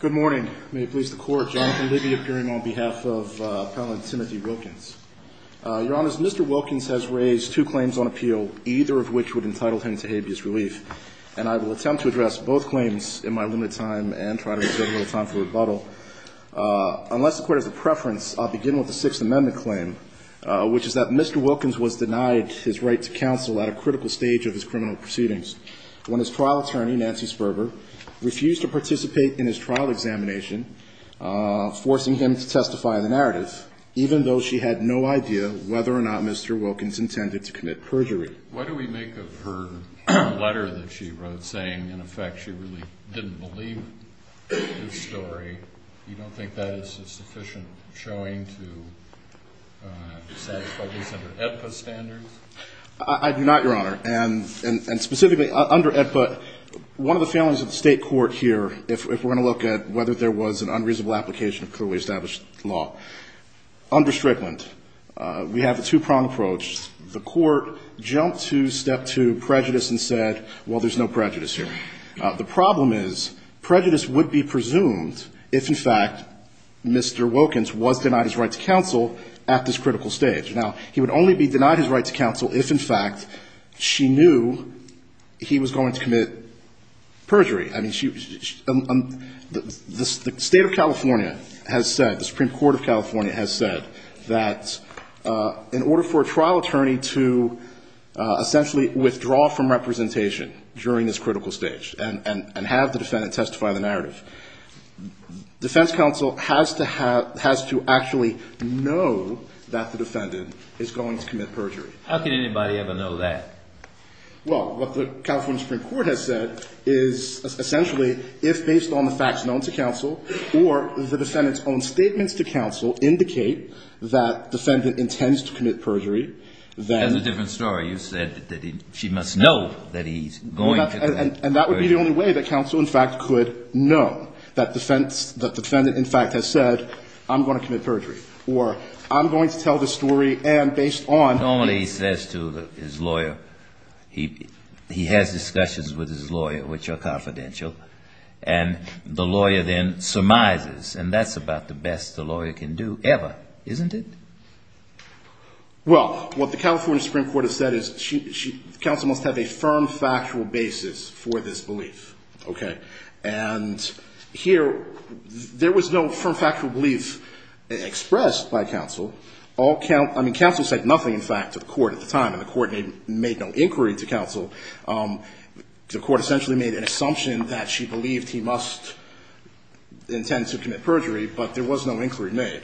Good morning. May it please the Court, Jonathan Libby appearing on behalf of Appellant Timothy Wilkins. Your Honor, Mr. Wilkins has raised two claims on appeal, either of which would entitle him to habeas relief, and I will attempt to address both claims in my limited time and try to reserve a little time for rebuttal. Unless the Court has a preference, I'll begin with the Sixth Amendment claim, which is that Mr. Wilkins was denied his right to counsel at a critical stage of his criminal proceedings when his trial attorney, Nancy Sperber, refused to participate in his trial examination, forcing him to testify in the narrative, even though she had no idea whether or not Mr. Wilkins intended to commit perjury. Why do we make of her letter that she wrote saying, in effect, she really didn't believe this story, you don't think that is a sufficient showing to satisfy these under AEDPA standards? I do not, Your Honor. And specifically, under AEDPA, one of the failings of the State court here, if we're going to look at whether there was an unreasonable application of clearly established law, under Strickland, we have a two-prong approach. The Court jumped to step two, prejudice, and said, well, there's no prejudice here. The problem is prejudice would be presumed if, in fact, Mr. Wilkins was denied his right to counsel at this critical stage. Now, he would only be denied his right to counsel if, in fact, she knew he was going to commit perjury. I mean, the State of California has said, the Supreme Court of California has said that in order for a trial attorney to essentially withdraw from representation during this critical stage and have the defendant testify the narrative, defense counsel has to actually know that the defendant is going to commit perjury. How can anybody ever know that? Well, what the California Supreme Court has said is essentially, if based on the facts known to counsel or the defendant's own statements to counsel indicate that the defendant intends to commit perjury, then the defense counsel has to know that the defendant is going to commit perjury. And that would be the only way that counsel, in fact, could know that the defendant, in fact, has said, I'm going to commit perjury, or I'm going to tell this story and based on the facts known to counsel. He has discussions with his lawyer, which are confidential, and the lawyer then surmises, and that's about the best the lawyer can do ever, isn't it? Well, what the California Supreme Court has said is counsel must have a firm factual basis for this belief, okay? And here there was no firm factual belief expressed by counsel. I mean, counsel said nothing, in fact, to the court at the time, and the court made no inquiry to counsel. The court essentially made an assumption that she believed he must intend to commit perjury, but there was no inquiry made.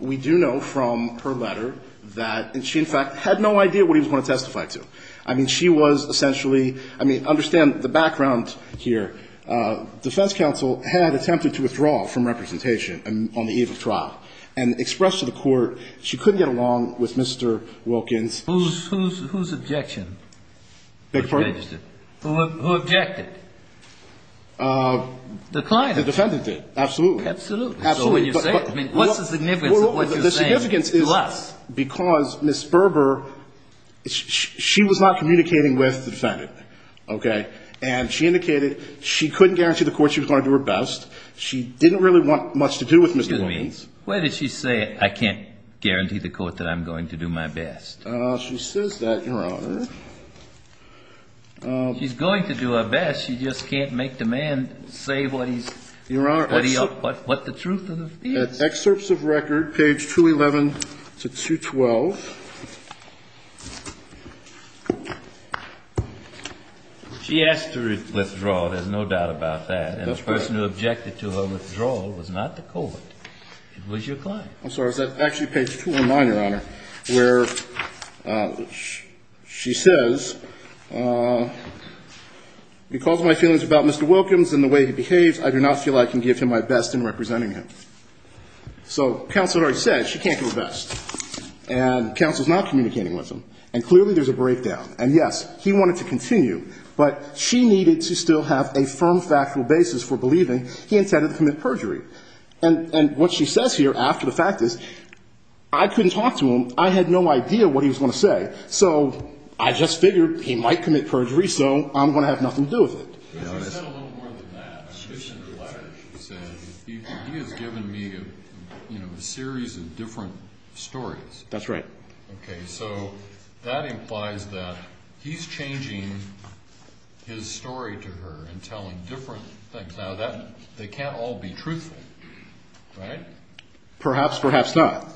We do know from her letter that she, in fact, had no idea what he was going to testify to. I mean, she was essentially, I mean, understand the background here. Defense counsel had attempted to withdraw from representation on the eve of trial and express to the court she couldn't get along with Mr. Wilkins. Whose objection? Beg your pardon? Who objected? The client. The defendant did, absolutely. Absolutely. So when you say it, I mean, what's the significance of what you're saying to us? The significance is because Ms. Berber, she was not communicating with the defendant, okay? And she indicated she couldn't guarantee the court she was going to do her best. She didn't really want much to do with Mr. Wilkins. Where did she say, I can't guarantee the court that I'm going to do my best? She says that, Your Honor. She's going to do her best. She just can't make the man say what he's going to do. What the truth of the case. Excerpts of record, page 211 to 212. She asked to withdraw. There's no doubt about that. And the person who objected to her withdrawal was not the court. It was your client. I'm sorry. Is that actually page 219, Your Honor? Where she says, because my feelings about Mr. Wilkins and the way he behaves, I do not feel I can give him my best in representing him. So counsel already said she can't do her best. And counsel's not communicating with him. And clearly there's a breakdown. And, yes, he wanted to continue, but she needed to still have a firm factual basis for believing he intended to commit perjury. And what she says here after the fact is, I couldn't talk to him. I had no idea what he was going to say. So I just figured he might commit perjury, so I'm going to have nothing to do with it. She said a little more than that. She said he has given me a series of different stories. That's right. Okay. So that implies that he's changing his story to her and telling different things. Now, they can't all be truthful, right? Perhaps, perhaps not.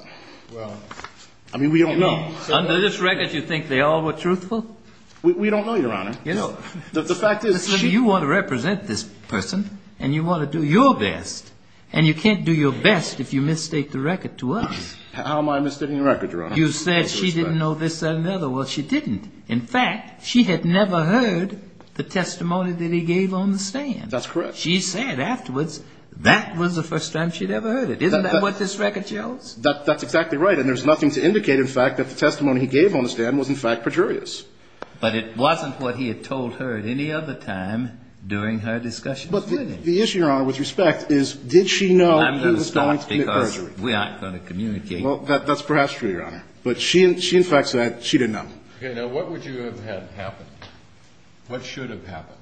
Well, I mean, we don't know. Under this record, you think they all were truthful? We don't know, Your Honor. The fact is, you want to represent this person, and you want to do your best. And you can't do your best if you mistake the record to us. How am I mistaking the record, Your Honor? You said she didn't know this or another. Well, she didn't. In fact, she had never heard the testimony that he gave on the stand. That's correct. She said afterwards that was the first time she'd ever heard it. Isn't that what this record shows? That's exactly right. And there's nothing to indicate, in fact, that the testimony he gave on the stand was, in fact, perjurious. But it wasn't what he had told her at any other time during her discussion with him. But the issue, Your Honor, with respect, is did she know he was going to commit perjury? I'm going to stop because we aren't going to communicate. Well, that's perhaps true, Your Honor. But she, in fact, said she didn't know. Okay. Now, what would you have had happen? What should have happened?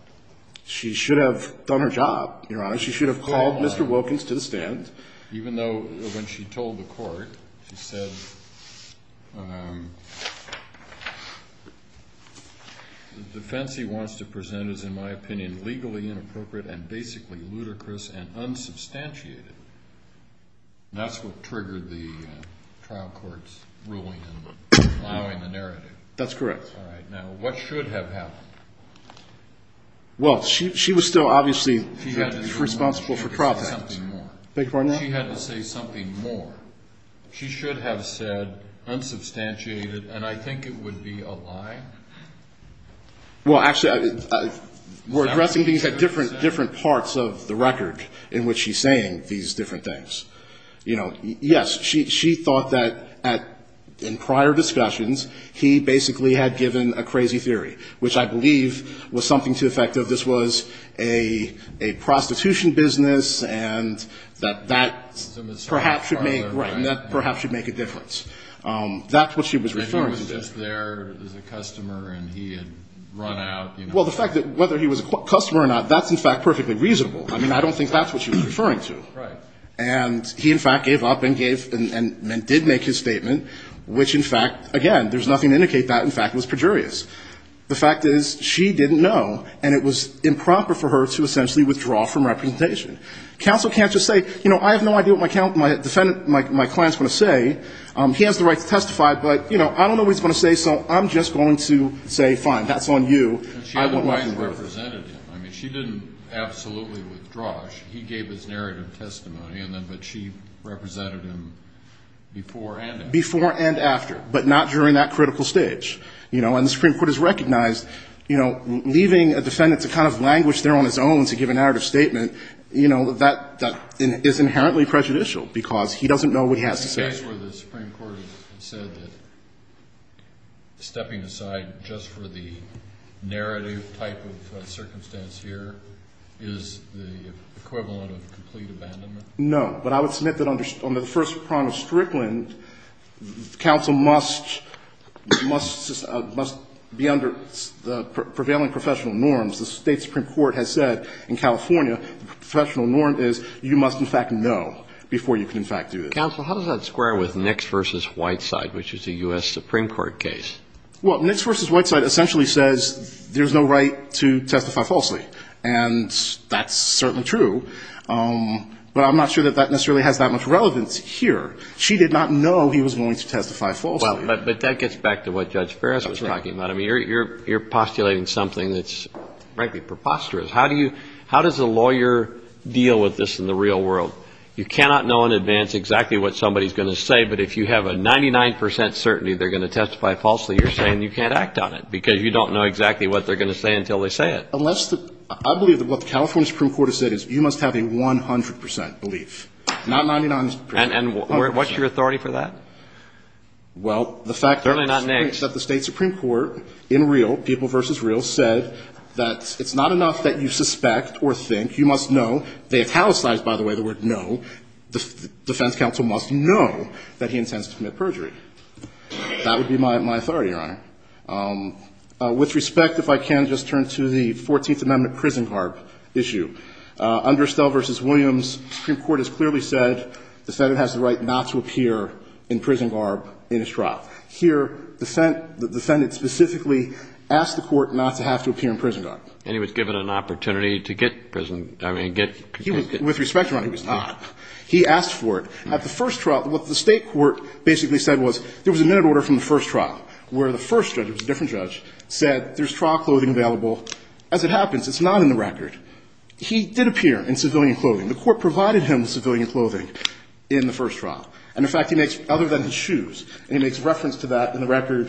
She should have done her job, Your Honor. She should have called Mr. Wilkins to the stand. Even though when she told the court, she said, the defense he wants to present is, in my opinion, legally inappropriate and basically ludicrous and unsubstantiated. That's what triggered the trial court's ruling and allowing the narrative. That's correct. All right. Now, what should have happened? Well, she was still, obviously, responsible for profits. She had to say something more. She had to say something more. She should have said unsubstantiated, and I think it would be a lie. Well, actually, we're addressing these at different parts of the record in which she's saying these different things. Yes, she thought that in prior discussions, he basically had given a crazy theory, which I believe was something to the effect of, this was a prostitution business and that that perhaps should make a difference. That's what she was referring to. Maybe he was just there as a customer and he had run out. Well, the fact that whether he was a customer or not, that's, in fact, perfectly reasonable. I mean, I don't think that's what she was referring to. Right. And he, in fact, gave up and did make his statement, which, in fact, again, there's nothing to indicate that. In fact, it was pejorious. The fact is she didn't know, and it was improper for her to essentially withdraw from representation. Counsel can't just say, you know, I have no idea what my client's going to say. He has the right to testify, but, you know, I don't know what he's going to say, so I'm just going to say, fine, that's on you. She had the right to represent him. I mean, she didn't absolutely withdraw. He gave his narrative testimony, but she represented him before and after. Before and after, but not during that critical stage. You know, and the Supreme Court has recognized, you know, leaving a defendant to kind of languish there on his own to give an narrative statement, you know, that is inherently prejudicial because he doesn't know what he has to say. The case where the Supreme Court said that stepping aside just for the narrative type of circumstance here is the equivalent of complete abandonment? No. But I would submit that on the first prong of Strickland, counsel must be under the prevailing professional norms. The State Supreme Court has said in California the professional norm is you must, in fact, know before you can, in fact, do this. So, counsel, how does that square with Nix v. Whiteside, which is a U.S. Supreme Court case? Well, Nix v. Whiteside essentially says there's no right to testify falsely, and that's certainly true. But I'm not sure that that necessarily has that much relevance here. She did not know he was going to testify falsely. But that gets back to what Judge Ferris was talking about. I mean, you're postulating something that's, frankly, preposterous. How does a lawyer deal with this in the real world? You cannot know in advance exactly what somebody's going to say, but if you have a 99 percent certainty they're going to testify falsely, you're saying you can't act on it because you don't know exactly what they're going to say until they say it. Unless the – I believe that what the California Supreme Court has said is you must have a 100 percent belief, not 99 percent. And what's your authority for that? Well, the fact that the State Supreme Court in real, people versus real, said that it's not enough that you suspect or think. You must know. They italicized, by the way, the word know. The defense counsel must know that he intends to commit perjury. That would be my authority, Your Honor. With respect, if I can, just turn to the 14th Amendment prison garb issue. Under Stelle v. Williams, the Supreme Court has clearly said the Senate has the right not to appear in prison garb in a trial. Here, the Senate, the defendant specifically asked the Court not to have to appear in prison garb. And he was given an opportunity to get prison – I mean, get – With respect, Your Honor, he was not. He asked for it. At the first trial, what the State court basically said was there was a minute order from the first trial where the first judge, it was a different judge, said there's trial clothing available. As it happens, it's not in the record. He did appear in civilian clothing. The Court provided him with civilian clothing in the first trial. And, in fact, he makes – other than his shoes, and he makes reference to that in the record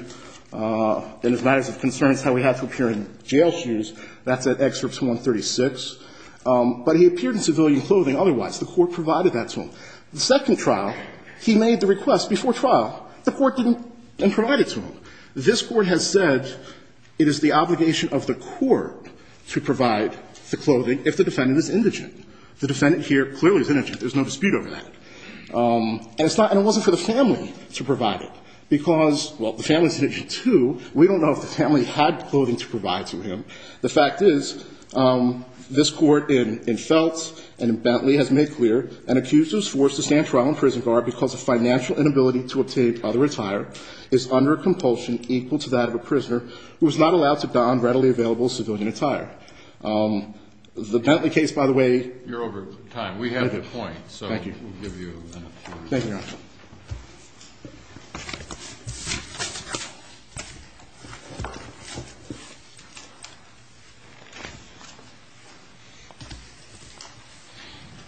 in his letters of concerns how he had to appear in jail shoes. That's at Excerpts 136. But he appeared in civilian clothing otherwise. The Court provided that to him. The second trial, he made the request before trial. The Court didn't provide it to him. This Court has said it is the obligation of the Court to provide the clothing if the defendant is indigent. The defendant here clearly is indigent. There's no dispute over that. And it's not – and it wasn't for the family to provide it, because, well, the family is indigent, too. We don't know if the family had clothing to provide to him. The fact is this Court in Feltz and in Bentley has made clear an accuser is forced to stand trial in prison guard because of financial inability to obtain other attire is under compulsion equal to that of a prisoner who is not allowed to don readily available civilian attire. The Bentley case, by the way – You're over time. Thank you. So we'll give you a minute. Thank you, Your Honor. Thank you.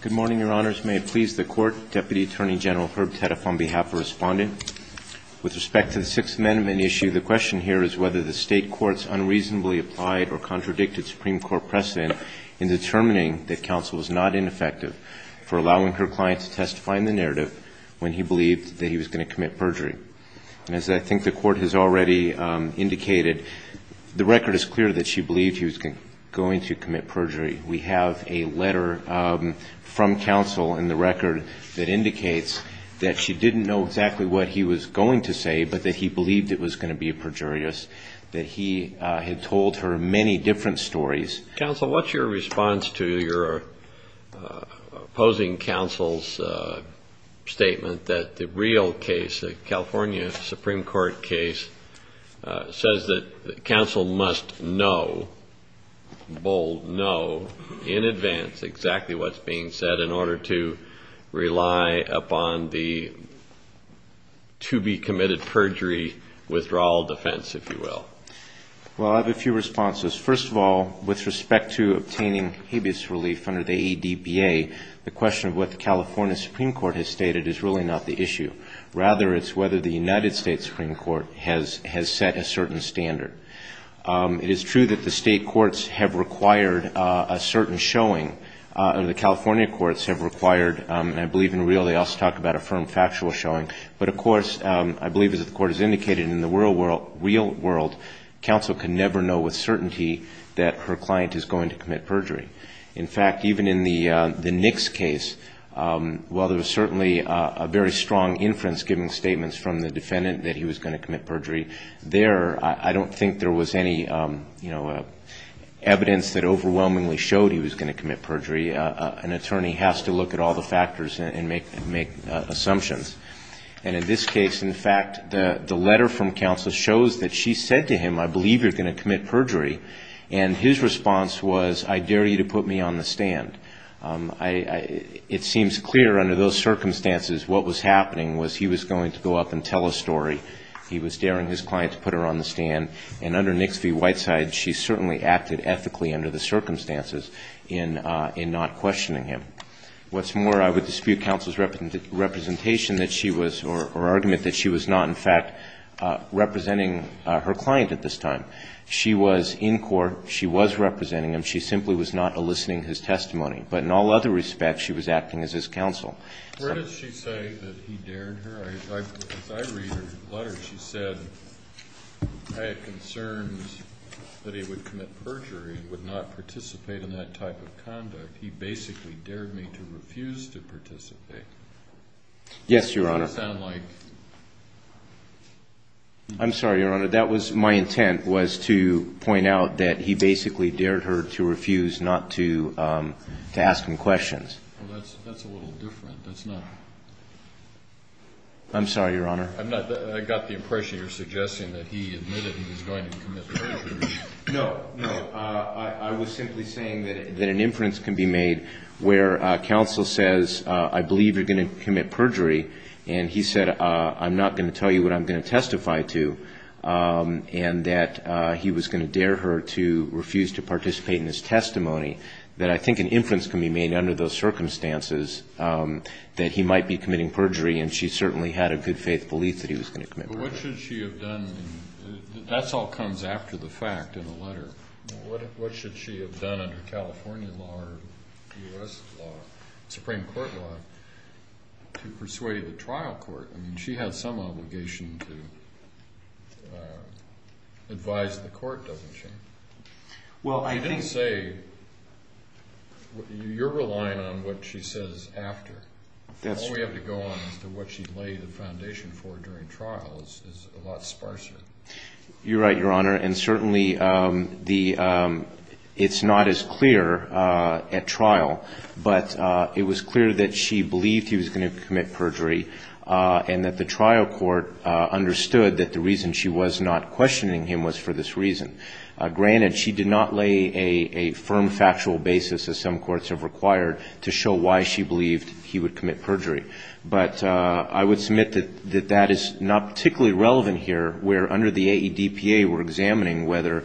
Good morning, Your Honors. May it please the Court. Deputy Attorney General Herb Teddeff on behalf of Respondent. With respect to the Sixth Amendment issue, the question here is whether the State courts unreasonably applied or contradicted Supreme Court precedent in determining that counsel was not ineffective for allowing her client to testify in the narrative when he believed that he was going to commit perjury. And as I think the Court has already indicated, the record is clear that she believed he was going to commit perjury. We have a letter from counsel in the record that indicates that she didn't know exactly what he was going to say, but that he believed it was going to be perjurious, that he had told her many different stories. Counsel, what's your response to your opposing counsel's statement that the real case, the California Supreme Court case, says that counsel must know, bold know, in advance exactly what's being said in order to rely upon the to-be-committed perjury withdrawal defense, if you will? Well, I have a few responses. First of all, with respect to obtaining habeas relief under the ADBA, the question of what the California Supreme Court has stated is really not the issue. Rather, it's whether the United States Supreme Court has set a certain standard. It is true that the state courts have required a certain showing, or the California courts have required, and I believe in real, they also talk about a firm factual showing. But, of course, I believe, as the Court has indicated, in the real world, counsel can never know with certainty that her client is going to commit perjury. In fact, even in the Nicks case, while there was certainly a very strong inference giving statements from the defendant that he was going to commit perjury, there I don't think there was any evidence that overwhelmingly showed he was going to commit perjury. An attorney has to look at all the factors and make assumptions. And in this case, in fact, the letter from counsel shows that she said to him, I believe you're going to commit perjury. And his response was, I dare you to put me on the stand. It seems clear under those circumstances what was happening was he was going to go up and tell a story. He was daring his client to put her on the stand. And under Nicks v. Whiteside, she certainly acted ethically under the circumstances in not questioning him. What's more, I would dispute counsel's representation that she was, or argument that she was not, in fact, representing her client at this time. She was in court. She was representing him. She simply was not eliciting his testimony. But in all other respects, she was acting as his counsel. Where did she say that he dared her? As I read her letter, she said, I had concerns that he would commit perjury and would not participate in that type of conduct. He basically dared me to refuse to participate. Yes, Your Honor. Does that sound like? I'm sorry, Your Honor. That was my intent was to point out that he basically dared her to refuse not to ask him questions. That's a little different. That's not. I'm sorry, Your Honor. I got the impression you're suggesting that he admitted he was going to commit perjury. No, no. I was simply saying that an inference can be made where counsel says, I believe you're going to commit perjury, and he said, I'm not going to tell you what I'm going to testify to, and that he was going to dare her to refuse to participate in his testimony, that I think an inference can be made under those circumstances that he might be committing perjury, and she certainly had a good faith belief that he was going to commit perjury. But what should she have done? That all comes after the fact in the letter. What should she have done under California law or U.S. law, Supreme Court law, to persuade the trial court? I mean, she had some obligation to advise the court, doesn't she? You didn't say you're relying on what she says after. All we have to go on is what she laid the foundation for during trial is a lot sparser. You're right, Your Honor. And certainly it's not as clear at trial, but it was clear that she believed he was going to commit perjury and that the trial court understood that the reason she was not questioning him was for this reason. Granted, she did not lay a firm factual basis, as some courts have required, to show why she believed he would commit perjury. But I would submit that that is not particularly relevant here, where under the AEDPA we're examining whether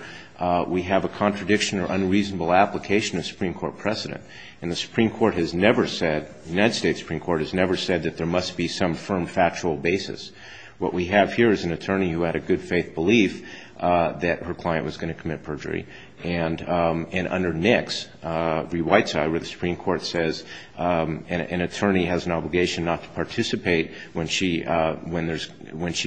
we have a contradiction or unreasonable application of Supreme Court precedent. And the Supreme Court has never said, the United States Supreme Court has never said that there must be some firm factual basis. What we have here is an attorney who had a good faith belief that her client was going to commit perjury. And under NICS, the white side of the Supreme Court says an attorney has an obligation not to participate when she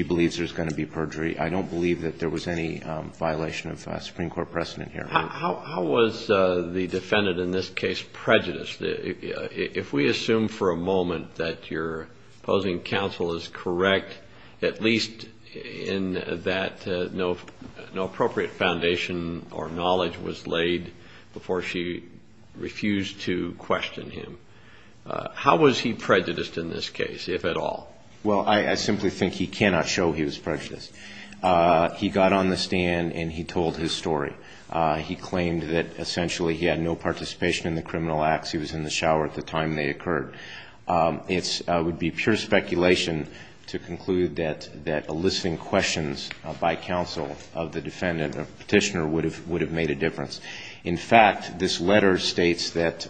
believes there's going to be perjury. I don't believe that there was any violation of Supreme Court precedent here. How was the defendant in this case prejudiced? If we assume for a moment that your opposing counsel is correct, at least in that no appropriate foundation or knowledge was laid before she refused to question him. How was he prejudiced in this case, if at all? Well, I simply think he cannot show he was prejudiced. He got on the stand and he told his story. He claimed that essentially he had no participation in the criminal acts. He was in the shower at the time they occurred. It would be pure speculation to conclude that eliciting questions by counsel of the defendant or petitioner would have made a difference. In fact, this letter states that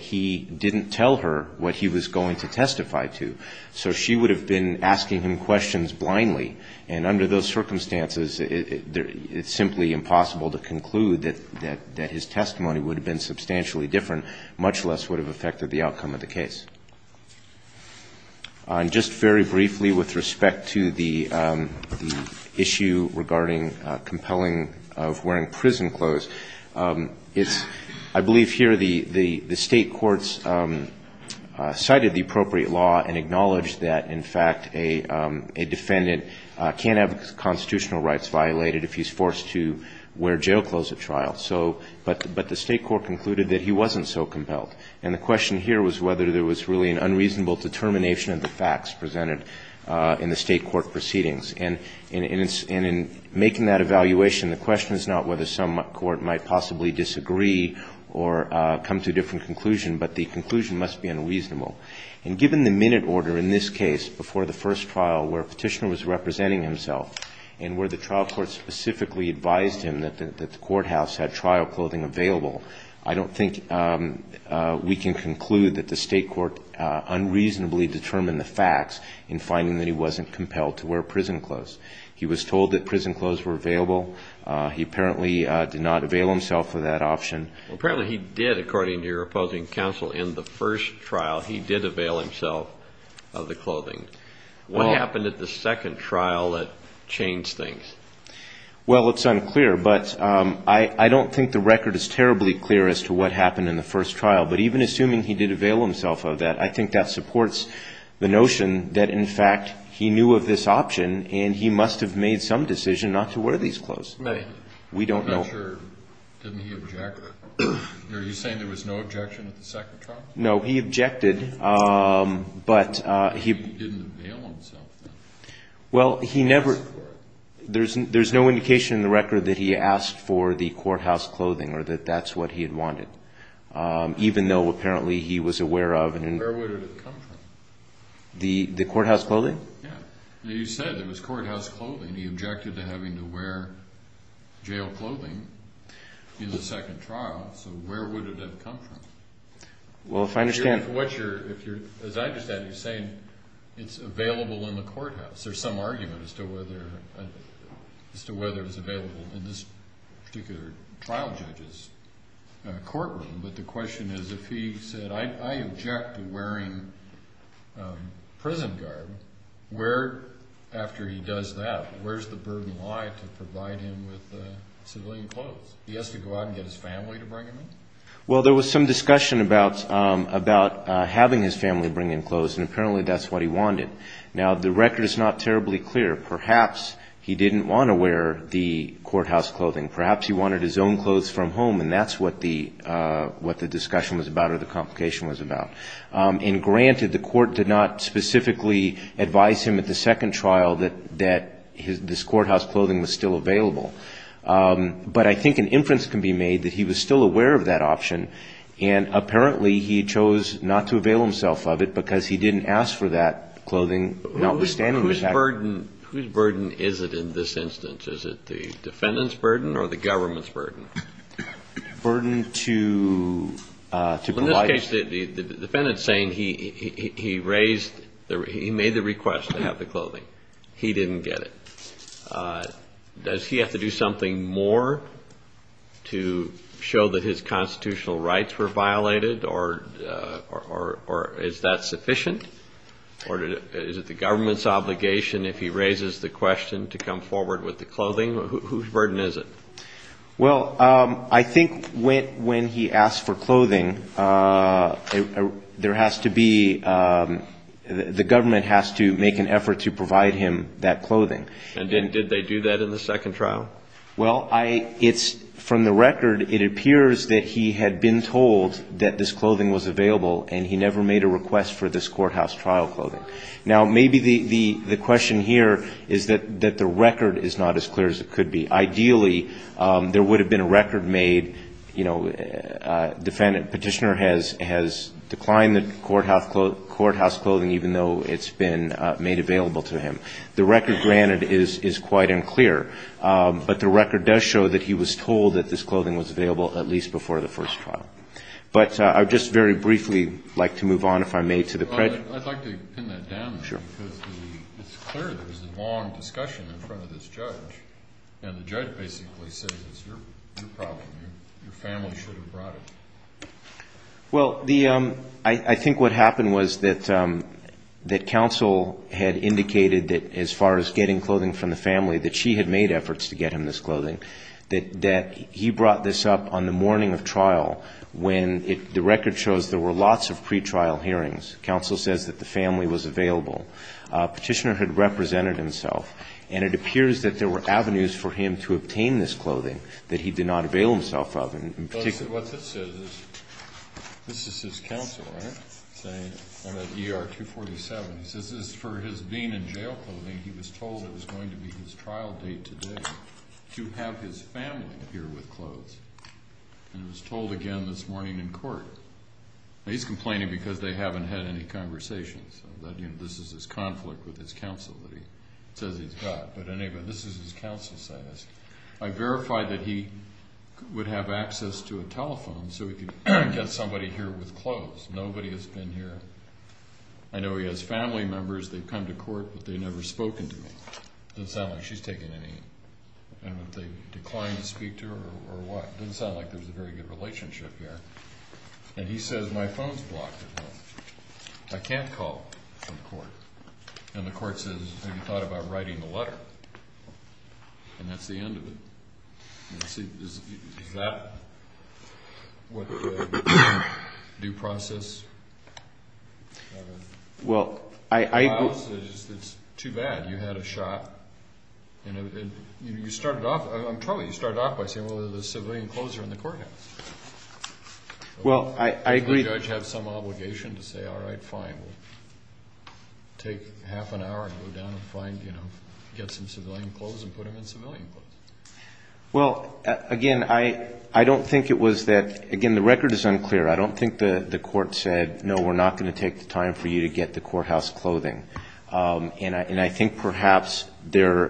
he didn't tell her what he was going to testify to. So she would have been asking him questions blindly. And under those circumstances, it's simply impossible to conclude that his testimony would have been substantially different, much less would have affected the outcome of the case. And just very briefly with respect to the issue regarding compelling of wearing prison clothes, I believe here the state courts cited the appropriate law and acknowledged that, in fact, a defendant can't have constitutional rights violated if he's forced to wear jail clothes at trial. So but the state court concluded that he wasn't so compelled. And the question here was whether there was really an unreasonable determination of the facts presented in the state court proceedings. And in making that evaluation, the question is not whether some court might possibly disagree or come to a different conclusion, but the conclusion must be unreasonable. And given the minute order in this case before the first trial where a petitioner was representing himself and where the trial court specifically advised him that the courthouse had trial clothing available, I don't think we can conclude that the state court unreasonably determined the facts in finding that he wasn't compelled to wear prison clothes. He was told that prison clothes were available. He apparently did not avail himself of that option. Apparently he did, according to your opposing counsel, in the first trial. He did avail himself of the clothing. What happened at the second trial that changed things? Well, it's unclear, but I don't think the record is terribly clear as to what happened in the first trial. But even assuming he did avail himself of that, I think that supports the notion that, in fact, he knew of this option and he must have made some decision not to wear these clothes. Maybe. We don't know. I'm not sure. Didn't he object? Are you saying there was no objection at the second trial? No, he objected. But he didn't avail himself of it. Well, he never – there's no indication in the record that he asked for the courthouse clothing or that that's what he had wanted, even though apparently he was aware of it. Where would it have come from? The courthouse clothing? Yeah. You said there was courthouse clothing. He objected to having to wear jail clothing in the second trial, so where would it have come from? As I understand it, you're saying it's available in the courthouse. There's some argument as to whether it's available in this particular trial judge's courtroom, but the question is if he said, I object to wearing prison garb, where, after he does that, where's the burden lie to provide him with civilian clothes? He has to go out and get his family to bring him in? Well, there was some discussion about having his family bring in clothes, and apparently that's what he wanted. Now, the record is not terribly clear. Perhaps he didn't want to wear the courthouse clothing. Perhaps he wanted his own clothes from home, and that's what the discussion was about or the complication was about. And granted, the court did not specifically advise him at the second trial that this courthouse clothing was still available. But I think an inference can be made that he was still aware of that option, and apparently he chose not to avail himself of it because he didn't ask for that clothing. Whose burden is it in this instance? Is it the defendant's burden or the government's burden? Burden to provide. In this case, the defendant's saying he made the request to have the clothing. He didn't get it. Does he have to do something more to show that his constitutional rights were violated, or is that sufficient? Or is it the government's obligation if he raises the question to come forward with the clothing? Whose burden is it? Well, I think when he asked for clothing, there has to be the government has to make an effort to provide him that clothing. And did they do that in the second trial? Well, it's from the record, it appears that he had been told that this clothing was available and he never made a request for this courthouse trial clothing. Now, maybe the question here is that the record is not as clear as it could be. Ideally, there would have been a record made, you know, the petitioner has declined the courthouse clothing even though it's been made available to him. The record, granted, is quite unclear. But the record does show that he was told that this clothing was available at least before the first trial. But I would just very briefly like to move on, if I may, to the prejudice. I'd like to pin that down. Sure. Because it's clear there was a long discussion in front of this judge, and the judge basically says it's your problem, your family should have brought it. Well, I think what happened was that counsel had indicated that as far as getting clothing from the family, that she had made efforts to get him this clothing, that he brought this up on the morning of trial when the record shows there were lots of pretrial hearings. Counsel says that the family was available. Petitioner had represented himself, and it appears that there were avenues for him to obtain this clothing that he did not avail himself of. What this says is, this is his counsel, right? Saying, I'm at ER 247. He says this is for his being in jail clothing. He was told it was going to be his trial date today to have his family appear with clothes. And it was told again this morning in court. He's complaining because they haven't had any conversations. This is his conflict with his counsel that he says he's got. But anyway, this is his counsel's status. I verified that he would have access to a telephone so he could get somebody here with clothes. Nobody has been here. I know he has family members. They've come to court, but they've never spoken to me. It doesn't sound like she's taken any. And have they declined to speak to her or what? It doesn't sound like there's a very good relationship here. And he says, my phone's blocked. I can't call from court. And the court says, have you thought about writing a letter? And that's the end of it. Is that what the due process? Well, I agree. It's too bad. You had a shot. You started off by saying, well, the civilian clothes are in the courthouse. Well, I agree. Does the judge have some obligation to say, all right, fine. We'll take half an hour and go down and get some civilian clothes and put them in civilian clothes. Well, again, I don't think it was that, again, the record is unclear. I don't think the court said, no, we're not going to take the time for you to get the courthouse clothing. And I think perhaps there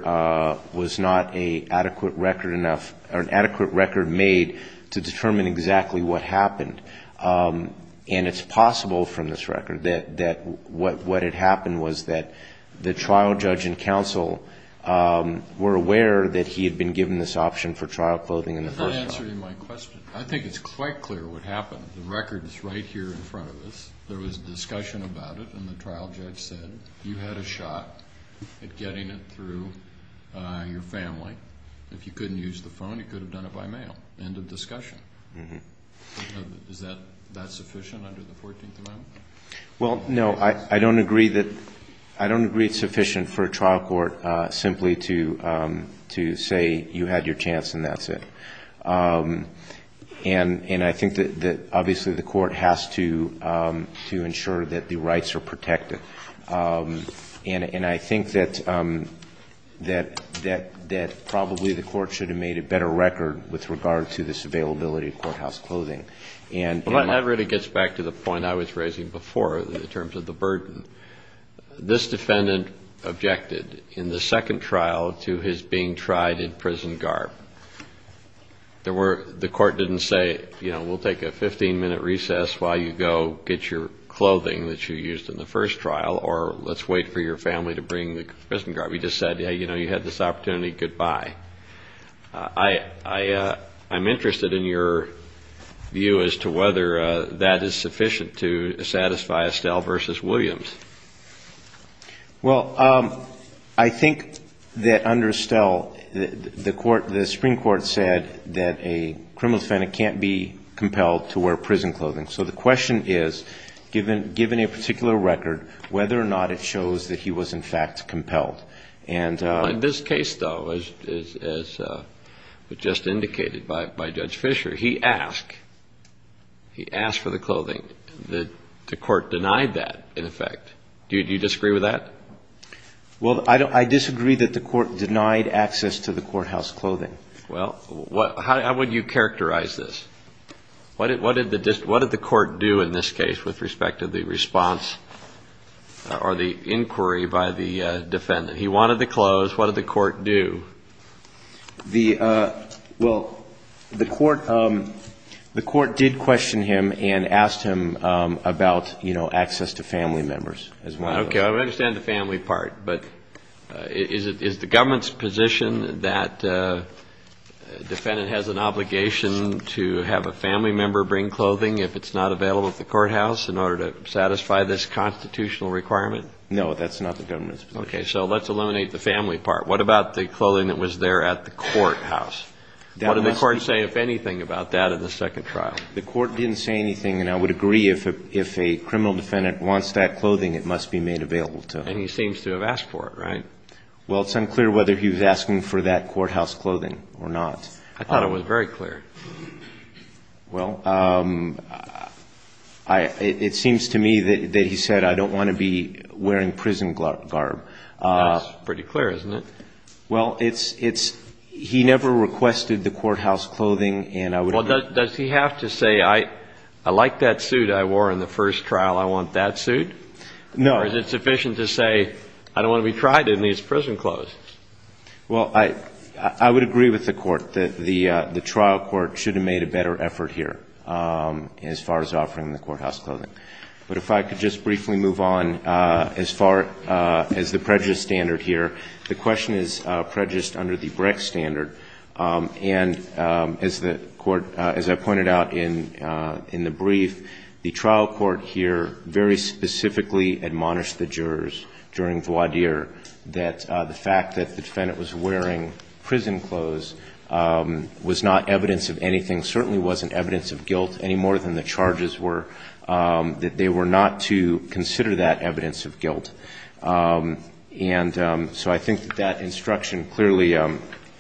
was not an adequate record made to determine exactly what happened. And it's possible from this record that what had happened was that the trial judge and counsel were aware that he had been given this option for trial clothing in the first trial. I'm not answering my question. I think it's quite clear what happened. The record is right here in front of us. There was a discussion about it, and the trial judge said, you had a shot at getting it through your family. If you couldn't use the phone, you could have done it by mail. End of discussion. Is that sufficient under the 14th Amendment? Well, no, I don't agree it's sufficient for a trial court simply to say you had your chance and that's it. And I think that, obviously, the court has to ensure that the rights are protected. And I think that probably the court should have made a better record with regard to this availability of courthouse clothing. Well, that really gets back to the point I was raising before in terms of the burden. This defendant objected in the second trial to his being tried in prison guard. The court didn't say, you know, we'll take a 15-minute recess while you go get your clothing that you used in the first trial, or let's wait for your family to bring the prison guard. We just said, you know, you had this opportunity, goodbye. I'm interested in your view as to whether that is sufficient to satisfy Estelle v. Williams. Well, I think that under Estelle, the Supreme Court said that a criminal defendant can't be compelled to wear prison clothing. So the question is, given a particular record, whether or not it shows that he was, in fact, compelled. In this case, though, as was just indicated by Judge Fisher, he asked for the clothing. The court denied that, in effect. Do you disagree with that? Well, I disagree that the court denied access to the courthouse clothing. Well, how would you characterize this? What did the court do in this case with respect to the response or the inquiry by the defendant? He wanted the clothes. What did the court do? Well, the court did question him and asked him about, you know, access to family members as well. Okay. I understand the family part. But is the government's position that a defendant has an obligation to have a family member bring clothing if it's not available at the courthouse in order to satisfy this constitutional requirement? No, that's not the government's position. Okay. So let's eliminate the family part. What about the clothing that was there at the courthouse? What did the court say, if anything, about that in the second trial? The court didn't say anything, and I would agree if a criminal defendant wants that clothing, it must be made available to him. And he seems to have asked for it, right? Well, it's unclear whether he was asking for that courthouse clothing or not. I thought it was very clear. Well, it seems to me that he said, I don't want to be wearing prison garb. That's pretty clear, isn't it? Well, it's he never requested the courthouse clothing, and I would agree. Well, does he have to say, I like that suit I wore in the first trial, I want that suit? No. Or is it sufficient to say, I don't want to be tried in these prison clothes? Well, I would agree with the court that the trial court should have made a better effort here as far as offering the courthouse clothing. But if I could just briefly move on as far as the prejudice standard here. The question is prejudice under the Brecht standard. And as the court, as I pointed out in the brief, the trial court here very specifically admonished the jurors during voir dire that the fact that the defendant was wearing prison clothes was not evidence of anything, certainly wasn't evidence of guilt any more than the charges were, that they were not to consider that evidence of guilt. And so I think that that instruction clearly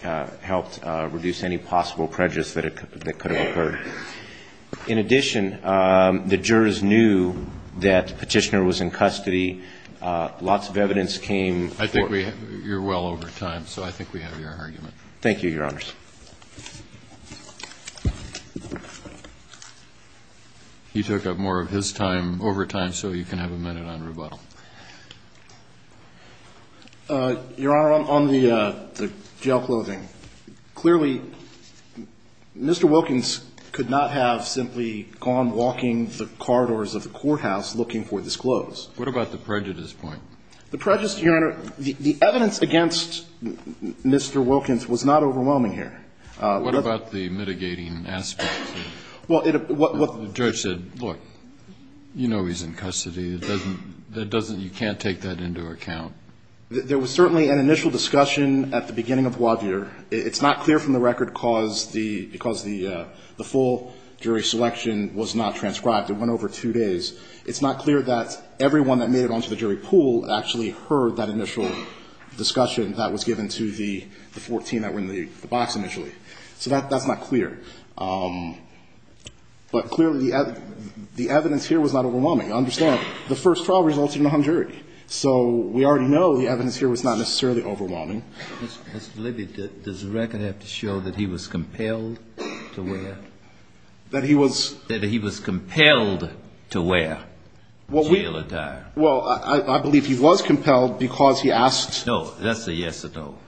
helped reduce any possible prejudice that could have occurred. In addition, the jurors knew that Petitioner was in custody. Lots of evidence came. I think we're well over time, so I think we have your argument. Thank you, Your Honors. He took up more of his time over time, so you can have a minute on rebuttal. Your Honor, on the jail clothing, clearly Mr. Wilkins could not have simply gone walking the corridors of the courthouse looking for this clothes. What about the prejudice point? The prejudice, Your Honor, the evidence against Mr. Wilkins was not overwhelming here. What about the mitigating aspects? Well, what the judge said, look, you know he's in custody. It doesn't you can't take that into account. There was certainly an initial discussion at the beginning of voir dire. It's not clear from the record because the full jury selection was not transcribed. It went over two days. It's not clear that everyone that made it onto the jury pool actually heard that initial discussion that was given to the 14 that were in the box initially. So that's not clear. But clearly the evidence here was not overwhelming. Understand, the first trial resulted in a hung jury. So we already know the evidence here was not necessarily overwhelming. Mr. Libby, does the record have to show that he was compelled to wear? That he was? He was compelled to wear jail attire. Well, I believe he was compelled because he asked. No, that's a yes or no.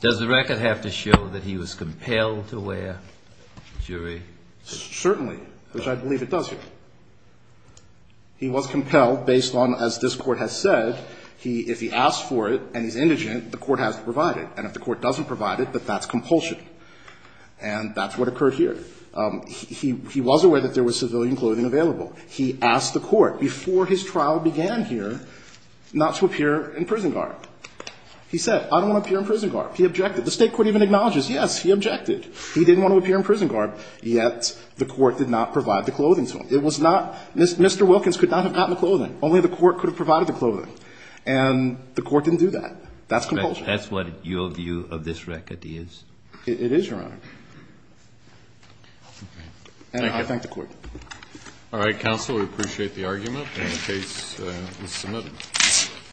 Does the record have to show that he was compelled to wear, jury? Certainly, which I believe it does here. He was compelled based on, as this Court has said, if he asked for it and he's indigent, the Court has to provide it. And if the Court doesn't provide it, but that's compulsion. And that's what occurred here. He was aware that there was civilian clothing available. He asked the Court before his trial began here not to appear in prison garb. He said, I don't want to appear in prison garb. He objected. The State Court even acknowledges, yes, he objected. He didn't want to appear in prison garb, yet the Court did not provide the clothing to him. It was not Mr. Wilkins could not have gotten the clothing. Only the Court could have provided the clothing. And the Court didn't do that. That's compulsion. That's what your view of this record is? It is, Your Honor. And I thank the Court. All right, counsel. We appreciate the argument. And the case is submitted.